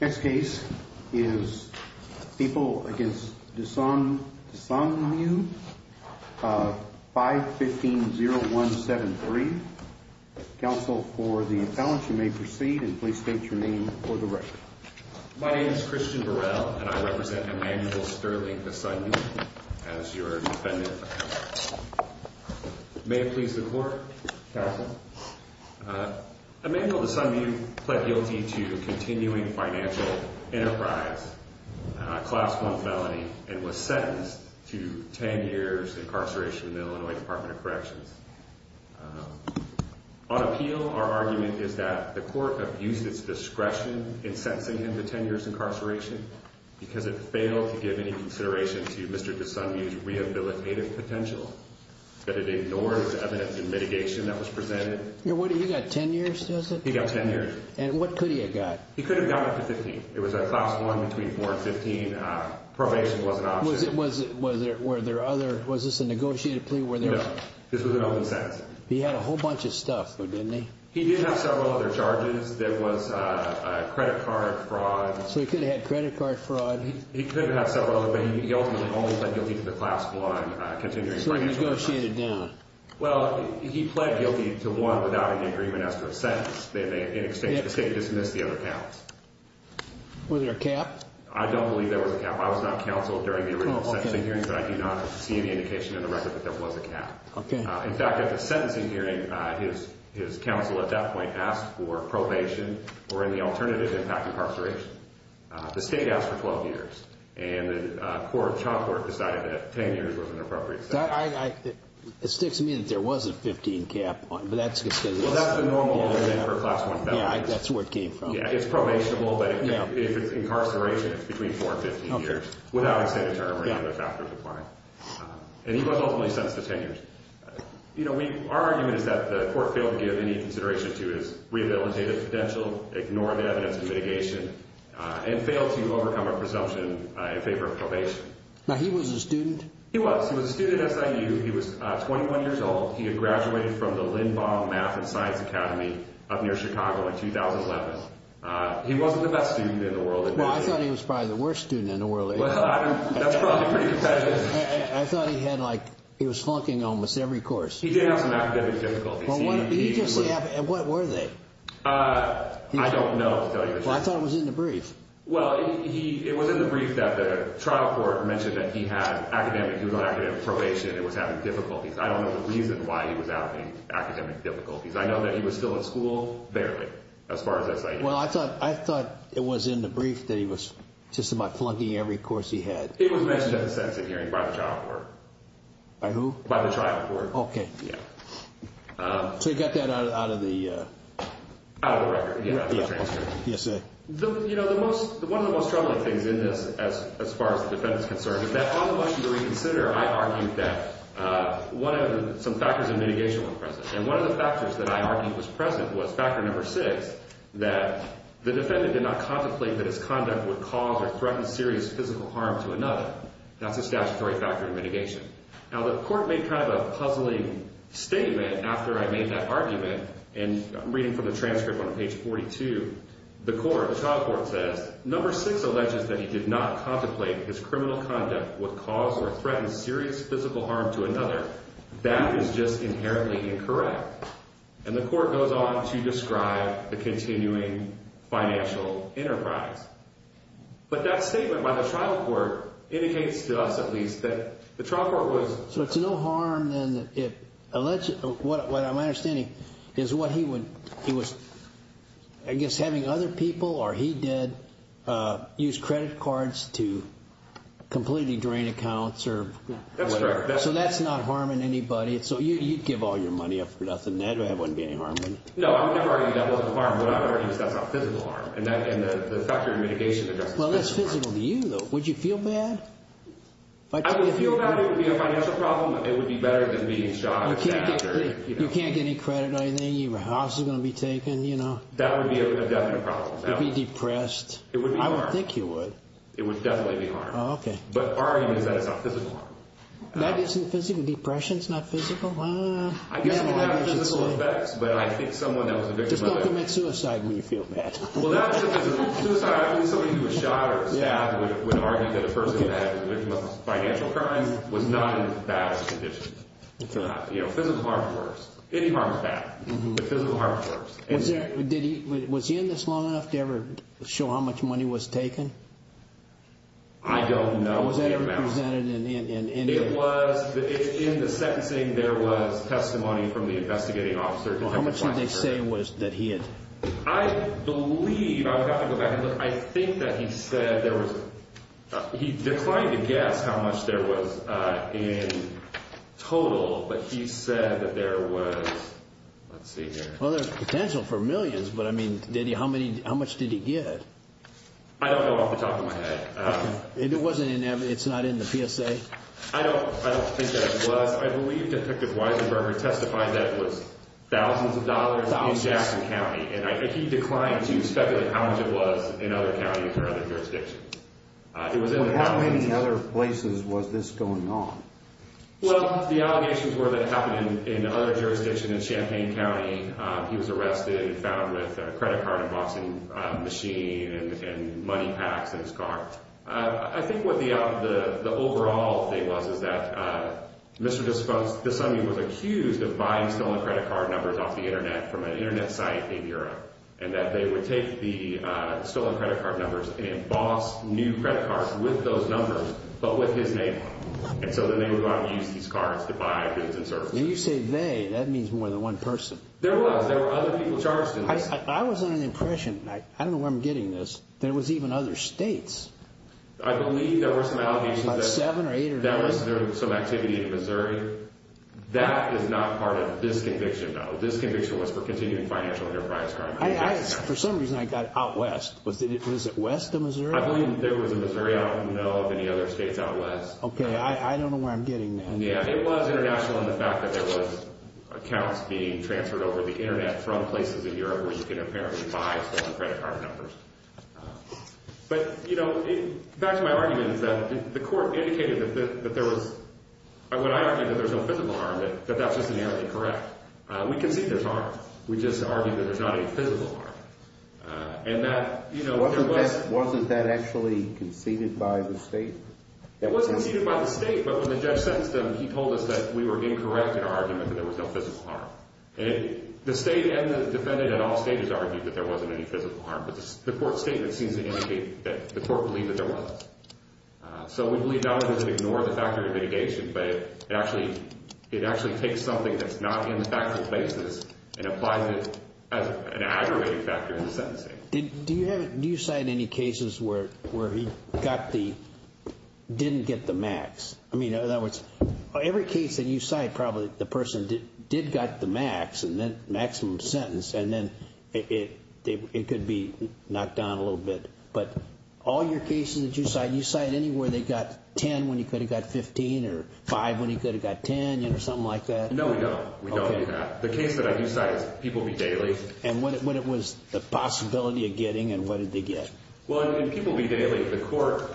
Next case is People v. Dosunmu, 515-0173. Counsel for the appellant, you may proceed, and please state your name for the record. My name is Christian Burrell, and I represent Emmanuel Sterling Dosunmu as your defendant. May it please the court, counsel. Emmanuel Dosunmu pled guilty to continuing financial enterprise, Class 1 felony, and was sentenced to 10 years incarceration in the Illinois Department of Corrections. On appeal, our argument is that the court abused its discretion in sentencing him to 10 years incarceration because it failed to give any consideration to Mr. Dosunmu's rehabilitative potential, that it ignored the evidence and mitigation that was presented. You got 10 years, does it? He got 10 years. And what could he have gotten? He could have gotten up to 15. It was a Class 1 between 4 and 15. Probation was an option. Was this a negotiated plea? No, this was an open sentence. He had a whole bunch of stuff, though, didn't he? He did have several other charges. There was credit card fraud. So he could have had credit card fraud. He could have had several other, but he ultimately only pled guilty to the Class 1 continuing financial enterprise. So he negotiated down? Well, he pled guilty to one without any agreement as to a sentence. In exchange, the state dismissed the other counts. Was there a cap? I don't believe there was a cap. I was not counseled during the original sentencing hearing, but I do not see any indication in the record that there was a cap. In fact, at the sentencing hearing, his counsel at that point asked for probation or any alternative impact incarceration. The state asked for 12 years, and the child court decided that 10 years was an appropriate sentence. It sticks to me that there was a 15 cap, but that's because... Well, that's a normal thing for a Class 1 felon. Yeah, that's where it came from. Yeah, it's probationable, but if it's incarceration, it's between 4 and 15 years without a state of term or any other factors applying. And he was ultimately sentenced to 10 years. Our argument is that the court failed to give any consideration to his rehabilitative potential, ignored the evidence of mitigation, and failed to overcome a presumption in favor of probation. Now, he was a student? He was. He was a student at SIU. He was 21 years old. He had graduated from the Lindbaum Math and Science Academy up near Chicago in 2011. He wasn't the best student in the world. Well, I thought he was probably the worst student in the world. Well, that's probably pretty competitive. I thought he was flunking almost every course. He did have some academic difficulties. What were they? I don't know to tell you the truth. Well, I thought it was in the brief. Well, it was in the brief that the trial court mentioned that he was on academic probation and was having difficulties. I don't know the reason why he was having academic difficulties. I know that he was still in school, barely, as far as SIU. Well, I thought it was in the brief that he was just about flunking every course he had. It was mentioned at the sentencing hearing by the trial court. By who? By the trial court. Okay. Yeah. So you got that out of the? Out of the record. Yeah. Yes, sir. One of the most troubling things in this, as far as the defendant is concerned, is that on the motion to reconsider, I argued that some factors of mitigation were present. And one of the factors that I argued was present was factor number six, that the defendant did not contemplate that his conduct would cause or threaten serious physical harm to another. That's a statutory factor in mitigation. Now, the court made kind of a puzzling statement after I made that argument. And I'm reading from the transcript on page 42. The trial court says, number six alleges that he did not contemplate that his criminal conduct would cause or threaten serious physical harm to another. That is just inherently incorrect. And the court goes on to describe the continuing financial enterprise. But that statement by the trial court indicates to us, at least, that the trial court was... He was, I guess, having other people, or he did, use credit cards to completely drain accounts or whatever. That's correct. So that's not harming anybody. So you'd give all your money up for nothing. That wouldn't be any harm. No, I would never argue that wasn't harm. What I would argue is that's a physical harm. And the factor of mitigation... Well, that's physical to you, though. Would you feel bad? I would feel bad. It would be a financial problem. It would be better than being shot. You can't get any credit or anything. Your house is going to be taken, you know. That would be a definite problem. You'd be depressed. It would be harm. I would think you would. It would definitely be harm. Oh, okay. But our argument is that it's a physical harm. That isn't physical? Depression's not physical? I guess it will have physical effects. But I think someone that was a victim of a... Just don't commit suicide when you feel bad. Well, that's a physical... Suicide, I think somebody who was shot or stabbed would argue that a person that was a victim of a financial crime was not in a bad condition. You know, physical harm is worse. Any harm is bad. But physical harm is worse. Was he in this long enough to ever show how much money was taken? I don't know. Was that ever presented in any... It was. In the sentencing, there was testimony from the investigating officer. How much did they say was... that he had... I believe... I would have to go back and look. I think that he said there was... He declined to guess how much there was in total. But he said that there was... Let's see here. Well, there's potential for millions. But, I mean, did he... How much did he get? I don't know off the top of my head. And it wasn't in... It's not in the PSA? I don't think that it was. I believe Detective Weisenberger testified that it was thousands of dollars in Jackson County. And I think he declined to speculate how much it was in other counties or other jurisdictions. It was in the... Well, how many other places was this going on? Well, the allegations were that it happened in other jurisdictions. In Champaign County, he was arrested and found with a credit card unboxing machine and money packs in his car. I think what the overall thing was is that Mr. Desani was accused of buying stolen credit card numbers off the Internet from an Internet site in Europe and that they would take the stolen credit card numbers and emboss new credit cards with those numbers but with his name on them. And so then they would go out and use these cards to buy goods and services. When you say they, that means more than one person. There was. There were other people charged in this. I was under the impression... I don't know where I'm getting this. There was even other states. I believe there were some allegations that... About seven or eight or nine. There was some activity in Missouri. That is not part of this conviction, though. This conviction was for continuing financial enterprise. For some reason, I got out west. Was it west of Missouri? I believe it was in Missouri. I don't know of any other states out west. Okay. I don't know where I'm getting that. Yeah. It was international in the fact that there was accounts being transferred over the Internet from places in Europe where you can apparently buy stolen credit card numbers. But, you know, back to my argument is that the court indicated that there was... When I argued that there was no physical harm, that that's just inherently correct. We concede there's harm. We just argue that there's not any physical harm. And that, you know... Wasn't that actually conceded by the state? It was conceded by the state, but when the judge sentenced him, he told us that we were incorrect in our argument that there was no physical harm. The state and the defendant at all stages argued that there wasn't any physical harm, but the court statement seems to indicate that the court believed that there was. So we believe not only does it ignore the factor of litigation, but it actually takes something that's not in the factual basis and applies it as an aggravating factor in the sentencing. Do you cite any cases where he got the... didn't get the max? I mean, in other words, every case that you cite, probably the person did get the max, and then maximum sentence, and then it could be knocked down a little bit. But all your cases that you cite, do you cite any where they got 10 when he could have got 15 or 5 when he could have got 10, you know, something like that? No, we don't. We don't do that. The case that I do cite is People v. Daly. And what was the possibility of getting, and what did they get? Well, in People v. Daly, the court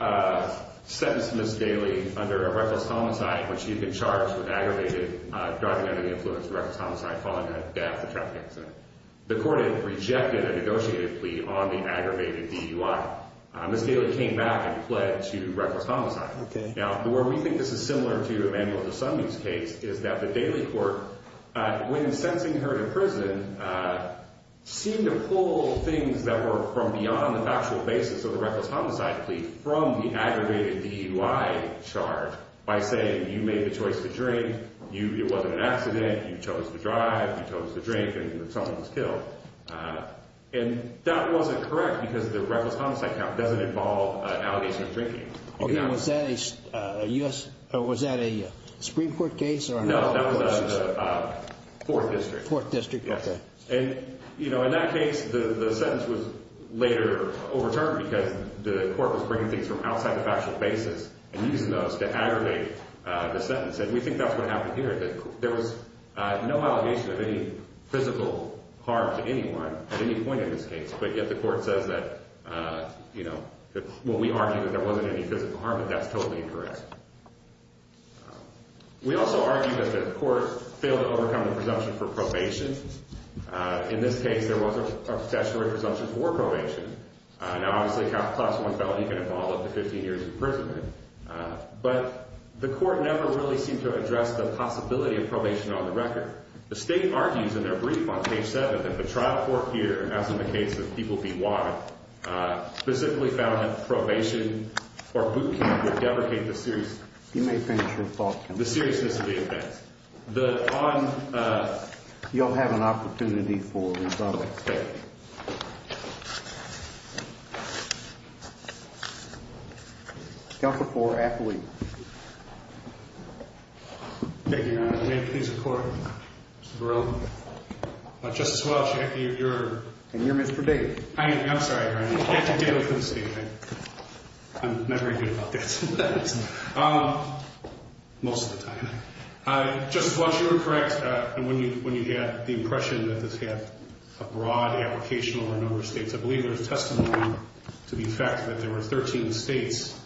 sentenced Ms. Daly under a reckless homicide, which she had been charged with aggravated driving under the influence of a reckless homicide following a death, a traffic accident. The court had rejected a negotiated plea on the aggravated DUI. Ms. Daly came back and pled to reckless homicide. Okay. Now, where we think this is similar to Emmanuel DeSunday's case is that the Daly court, when sentencing her to prison, seemed to pull things that were from beyond the factual basis of the reckless homicide plea from the aggravated DUI charge by saying, you made the choice to drink, it wasn't an accident, you chose to drive, you chose to drink, and someone was killed. And that wasn't correct because the reckless homicide count doesn't involve an allegation of drinking. Okay, was that a Supreme Court case? No, that was the Fourth District. Fourth District, okay. And, you know, in that case, the sentence was later overturned because the court was bringing things from outside the factual basis and using those to aggravate the sentence. And we think that's what happened here, that there was no allegation of any physical harm to anyone at any point in this case, but yet the court says that, you know, well, we argue that there wasn't any physical harm, but that's totally incorrect. We also argue that the court failed to overcome the presumption for probation. In this case, there was a statutory presumption for probation. Now, obviously, a Class I felony can involve up to 15 years' imprisonment. But the court never really seemed to address the possibility of probation on the record. The State argues in their brief on page 7 that the trial court here, as in the case of people being watered, specifically found that probation or boot camp would deprecate the seriousness of the offense. You'll have an opportunity for rebuttal. Thank you, Your Honor. Counsel for Appellee. Thank you, Your Honor. May I please report, Mr. Barilla? Justice Welch, you're- And you're Mr. Davis. I'm sorry, Your Honor. I'm not very good about this. Most of the time. Justice Welch, you were correct when you had the impression that this had a broad application over a number of states. I believe there was testimony to the effect that there were 13 states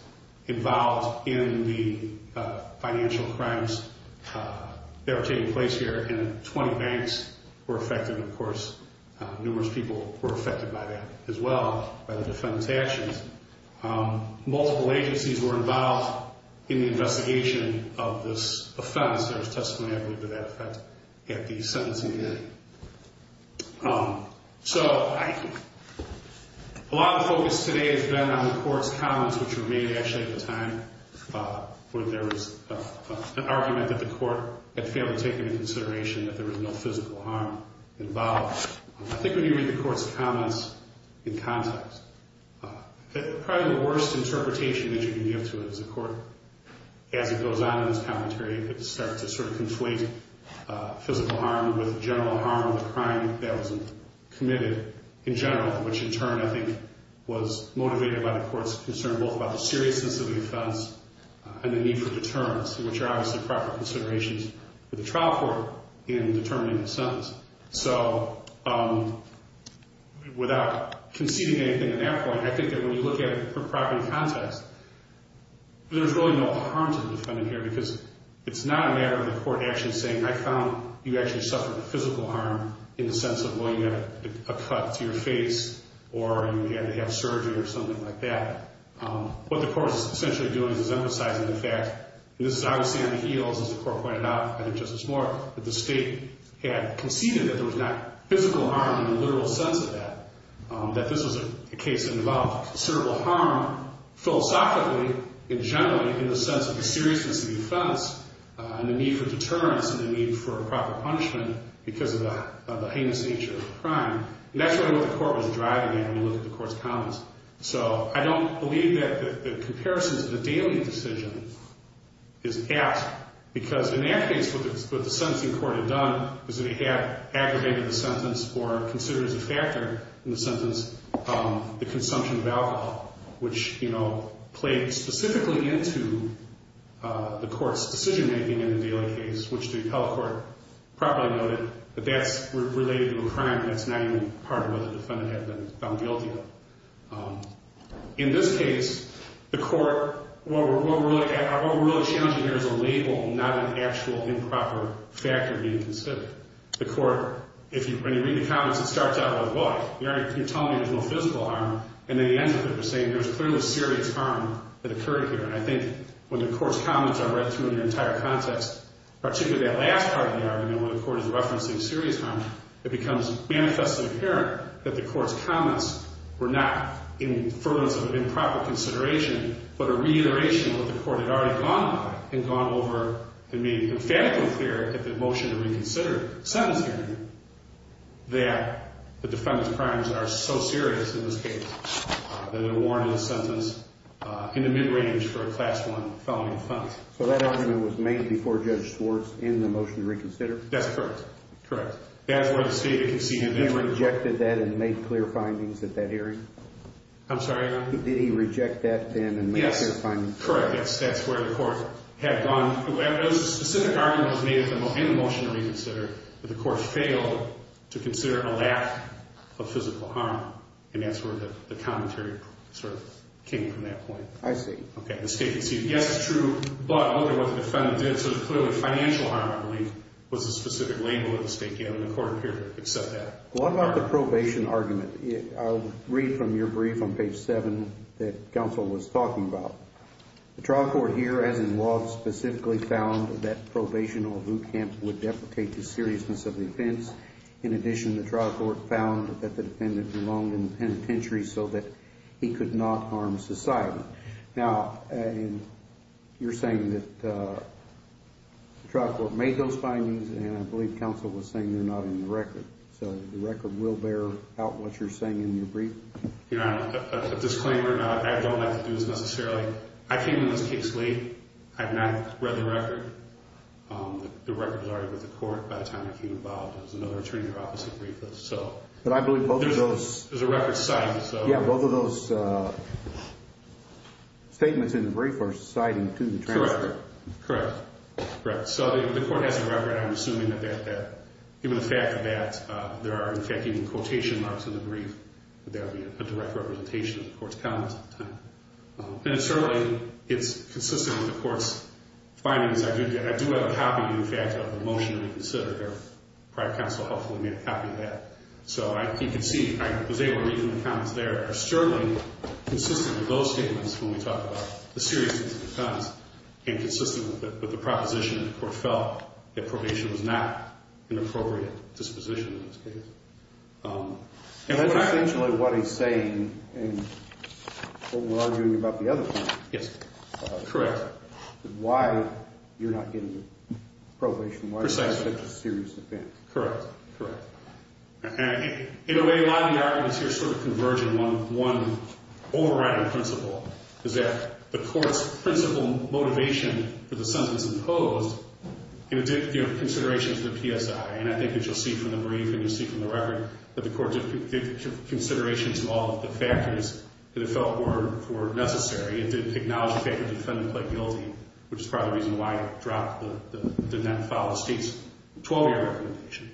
involved in the financial crimes that were taking place here, and 20 banks were affected. Of course, numerous people were affected by that as well, by the defendant's actions. Multiple agencies were involved in the investigation of this offense. There was testimony, I believe, to that effect at the sentencing hearing. So a lot of the focus today has been on the court's comments, which were made, actually, at the time, where there was an argument that the court had failed to take into consideration that there was no physical harm involved. I think when you read the court's comments in context, probably the worst interpretation that you can give to it is the court, as it goes on in this commentary, starts to sort of conflate physical harm with general harm, the crime that was committed in general, which in turn, I think, was motivated by the court's concern both about the seriousness of the offense and the need for deterrence, which are obviously proper considerations for the trial court in determining the sentence. So without conceding anything in that point, I think that when you look at it from property context, there's really no harm to the defendant here because it's not a matter of the court actually saying, I found you actually suffered physical harm in the sense of, well, you had a cut to your face or you had to have surgery or something like that. What the court is essentially doing is emphasizing the fact, and this is obviously on the heels, as the court pointed out, I think Justice Moore, that the state had conceded that there was not physical harm in the literal sense of that, that this was a case that involved considerable harm philosophically and generally in the sense of the seriousness of the offense and the need for deterrence and the need for proper punishment because of the heinous nature of the crime. And that's really what the court was driving in when you look at the court's comments. So I don't believe that the comparison to the Daly decision is apt because in that case, what the sentencing court had done was that it had aggravated the sentence or considered as a factor in the sentence the consumption of alcohol, which played specifically into the court's decision-making in the Daly case, which the appellate court properly noted that that's related to a crime that's not even part of what the defendant had been found guilty of. In this case, the court, what we're really challenging here is a label, not an actual improper factor being considered. The court, when you read the comments, it starts out with, well, you're telling me there's no physical harm, and at the end of it, they're saying there's clearly serious harm that occurred here. And I think when the court's comments are read through in their entire context, particularly that last part of the argument when the court is referencing serious harm, it becomes manifestly apparent that the court's comments were not inferences of improper consideration but a reiteration of what the court had already gone by and gone over and made emphatically clear at the motion to reconsider sentencing that the defendant's crimes are so serious in this case that they're warranted a sentence in the mid-range for a Class I felony offense. So that argument was made before Judge Schwartz in the motion to reconsider? That's correct, correct. That's where the state had conceded. And he rejected that and made clear findings at that hearing? I'm sorry, Your Honor? Did he reject that then and make clear findings? Yes, correct. Yes, that's where the court had gone. The specific argument was made in the motion to reconsider that the court failed to consider a lack of physical harm, and that's where the commentary sort of came from at that point. I see. Okay, the state conceded. Yes, it's true, but look at what the defendant did. There was clearly financial harm, I believe, was the specific label of the state, and the court appeared to accept that. What about the probation argument? I'll read from your brief on page 7 that counsel was talking about. The trial court here, as involved, specifically found that probation or boot camp would deprecate the seriousness of the offense. In addition, the trial court found that the defendant belonged in the penitentiary so that he could not harm society. Now, you're saying that the trial court made those findings, and I believe counsel was saying they're not in the record, so the record will bear out what you're saying in your brief? Your Honor, a disclaimer. I don't have to do this necessarily. I came to this case late. I have not read the record. The record was already with the court by the time I came involved. There was another attorney there who obviously briefed us. But I believe both of those. There's a record cited. Yeah, both of those statements in the brief are citing to the transcript. Correct. Correct. So the court has a record. I'm assuming that even the fact that there are, in fact, even quotation marks in the brief, that there would be a direct representation of the court's comments at the time. And certainly it's consistent with the court's findings. I do have a copy, in fact, of the motion to reconsider here. Probably counsel hopefully made a copy of that. So you can see I was able to read from the comments there. Certainly consistent with those statements when we talk about the seriousness of the comments and consistent with the proposition that the court felt that probation was not an appropriate disposition in this case. And that's essentially what he's saying in what we're arguing about the other point. Yes. Correct. Why you're not getting probation. Why is that such a serious offense? Correct. In a way, a lot of the arguments here sort of converge on one overriding principle, is that the court's principal motivation for the sentence imposed in addition to considerations of the PSI. And I think that you'll see from the brief and you'll see from the record that the court did give consideration to all of the factors that it felt were necessary. It did acknowledge the fact that the defendant played guilty, which is probably the reason why it dropped the net file of the state's 12-year recommendation.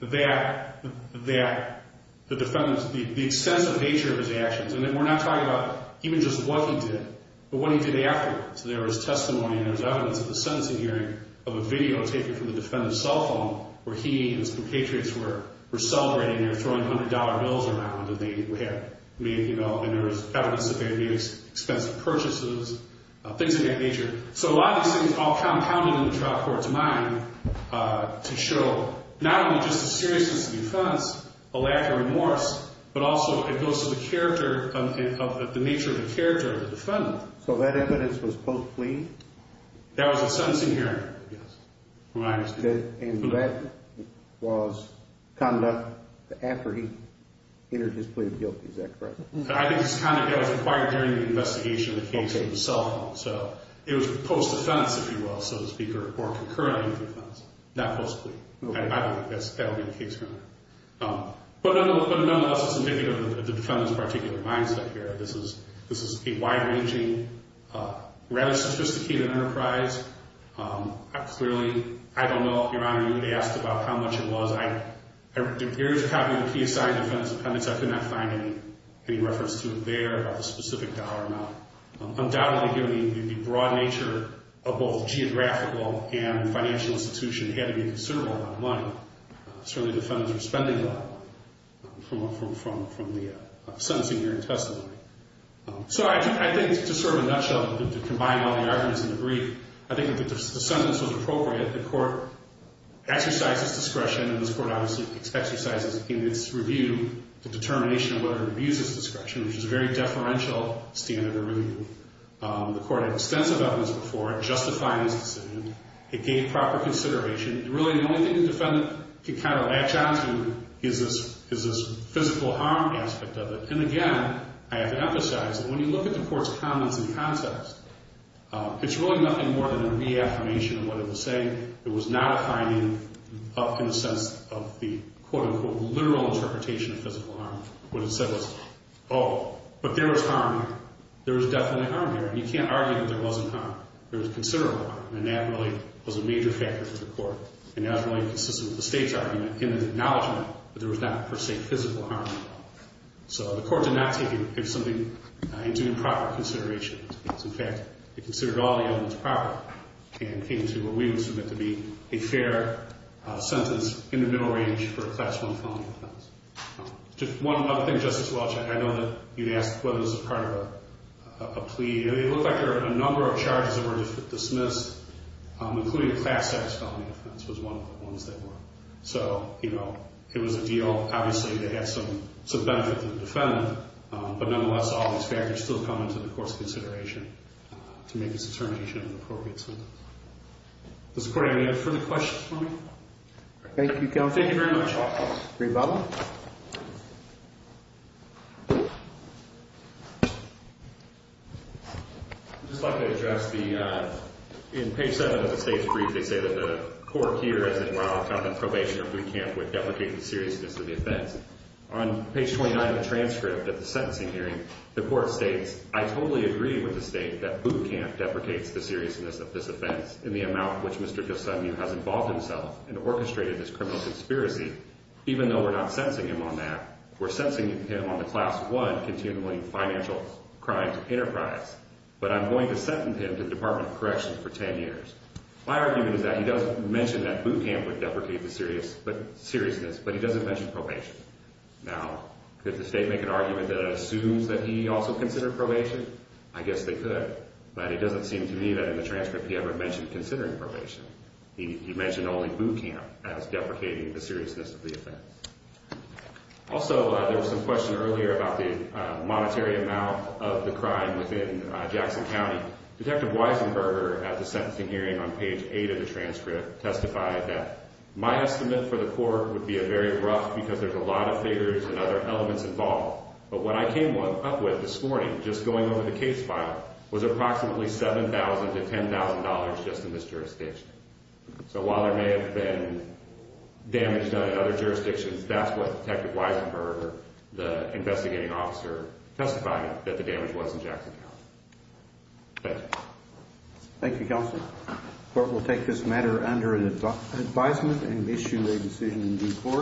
That the defendant's, the extensive nature of his actions, and we're not talking about even just what he did, but what he did afterwards. There was testimony and there was evidence at the sentencing hearing of a video taken from the defendant's cell phone where he and his compatriots were celebrating, they were throwing $100 bills around, and there was evidence that they had made expensive purchases, things of that nature. So a lot of these things all compounded in the trial court's mind to show not only just the seriousness of the offense, a lack of remorse, but also it goes to the character, the nature of the character of the defendant. So that evidence was post-plea? That was at the sentencing hearing. Yes. And that was conduct after he entered his plea of guilt, is that correct? I think it's conduct that was required during the investigation of the case from the cell phone. So it was post-defense, if you will, so to speak, or concurrently with defense, not post-plea. I don't think that would be the case right now. But nonetheless, it's indicative of the defendant's particular mindset here. This is a wide-ranging, rather sophisticated enterprise. Clearly, I don't know, Your Honor, you asked about how much it was. There is a copy of the key assigned to the defendant's appendix. I could not find any reference to it there about the specific dollar amount. Undoubtedly, given the broad nature of both geographical and financial institution, it had to be considerable amount of money. Certainly, the defendants were spending a lot of money from the sentencing hearing testimony. So I think just sort of in a nutshell, to combine all the arguments in the brief, I think if the sentence was appropriate, the court exercised its discretion, and this court obviously exercises in its review, the determination of whether it reviews its discretion, which is a very deferential standard of review. The court had extensive evidence before it justifying its decision. It gave proper consideration. Really, the only thing the defendant can kind of latch on to is this physical harm aspect of it. And again, I have to emphasize that when you look at the court's comments and concepts, it's really nothing more than a reaffirmation of what it was saying. It was not a finding in the sense of the, quote, unquote, literal interpretation of physical harm. What it said was, oh, but there was harm here. There was definitely harm here, and you can't argue that there wasn't harm. There was considerable harm, and that really was a major factor for the court, and that was really consistent with the state's argument in its acknowledgement that there was not, per se, physical harm at all. So the court did not take it as something into improper consideration. In fact, it considered all the evidence proper and came to what we would submit to be a fair sentence in the middle range for a Class I felony offense. Just one other thing, Justice Welch, I know that you'd ask whether this was part of a plea. It looked like there were a number of charges that were dismissed, including a Class X felony offense was one of the ones that were. So, you know, it was a deal. Obviously, it had some benefit to the defendant, but nonetheless, all these factors still come into the court's consideration to make its determination of an appropriate sentence. Does the court have any further questions for me? Thank you, counsel. Thank you very much. Rebuttal. I'd just like to address the, in page 7 of the state's brief, they say that the court here, as it were, found that probation or boot camp would deprecate the seriousness of the offense. On page 29 of the transcript at the sentencing hearing, the court states, I totally agree with the state that boot camp deprecates the seriousness of this offense in the amount which Mr. Gilsunyu has involved himself and orchestrated this criminal conspiracy. Even though we're not sentencing him on that, we're sentencing him on the Class I continually financial crimes enterprise. But I'm going to sentence him to the Department of Corrections for 10 years. My argument is that he does mention that boot camp would deprecate the seriousness, but he doesn't mention probation. Now, could the state make an argument that it assumes that he also considered probation? I guess they could, but it doesn't seem to me that in the transcript he ever mentioned considering probation. He mentioned only boot camp as deprecating the seriousness of the offense. Also, there was some question earlier about the monetary amount of the crime within Jackson County. Detective Weisenberger, at the sentencing hearing on page 8 of the transcript, testified that my estimate for the court would be very rough because there's a lot of figures and other elements involved. But what I came up with this morning, just going over the case file, was approximately $7,000 to $10,000 just in this jurisdiction. So while there may have been damage done in other jurisdictions, that's what Detective Weisenberger, the investigating officer, testified that the damage was in Jackson County. Thank you. Thank you, counsel. The court will take this matter under advisement and issue a decision in due course.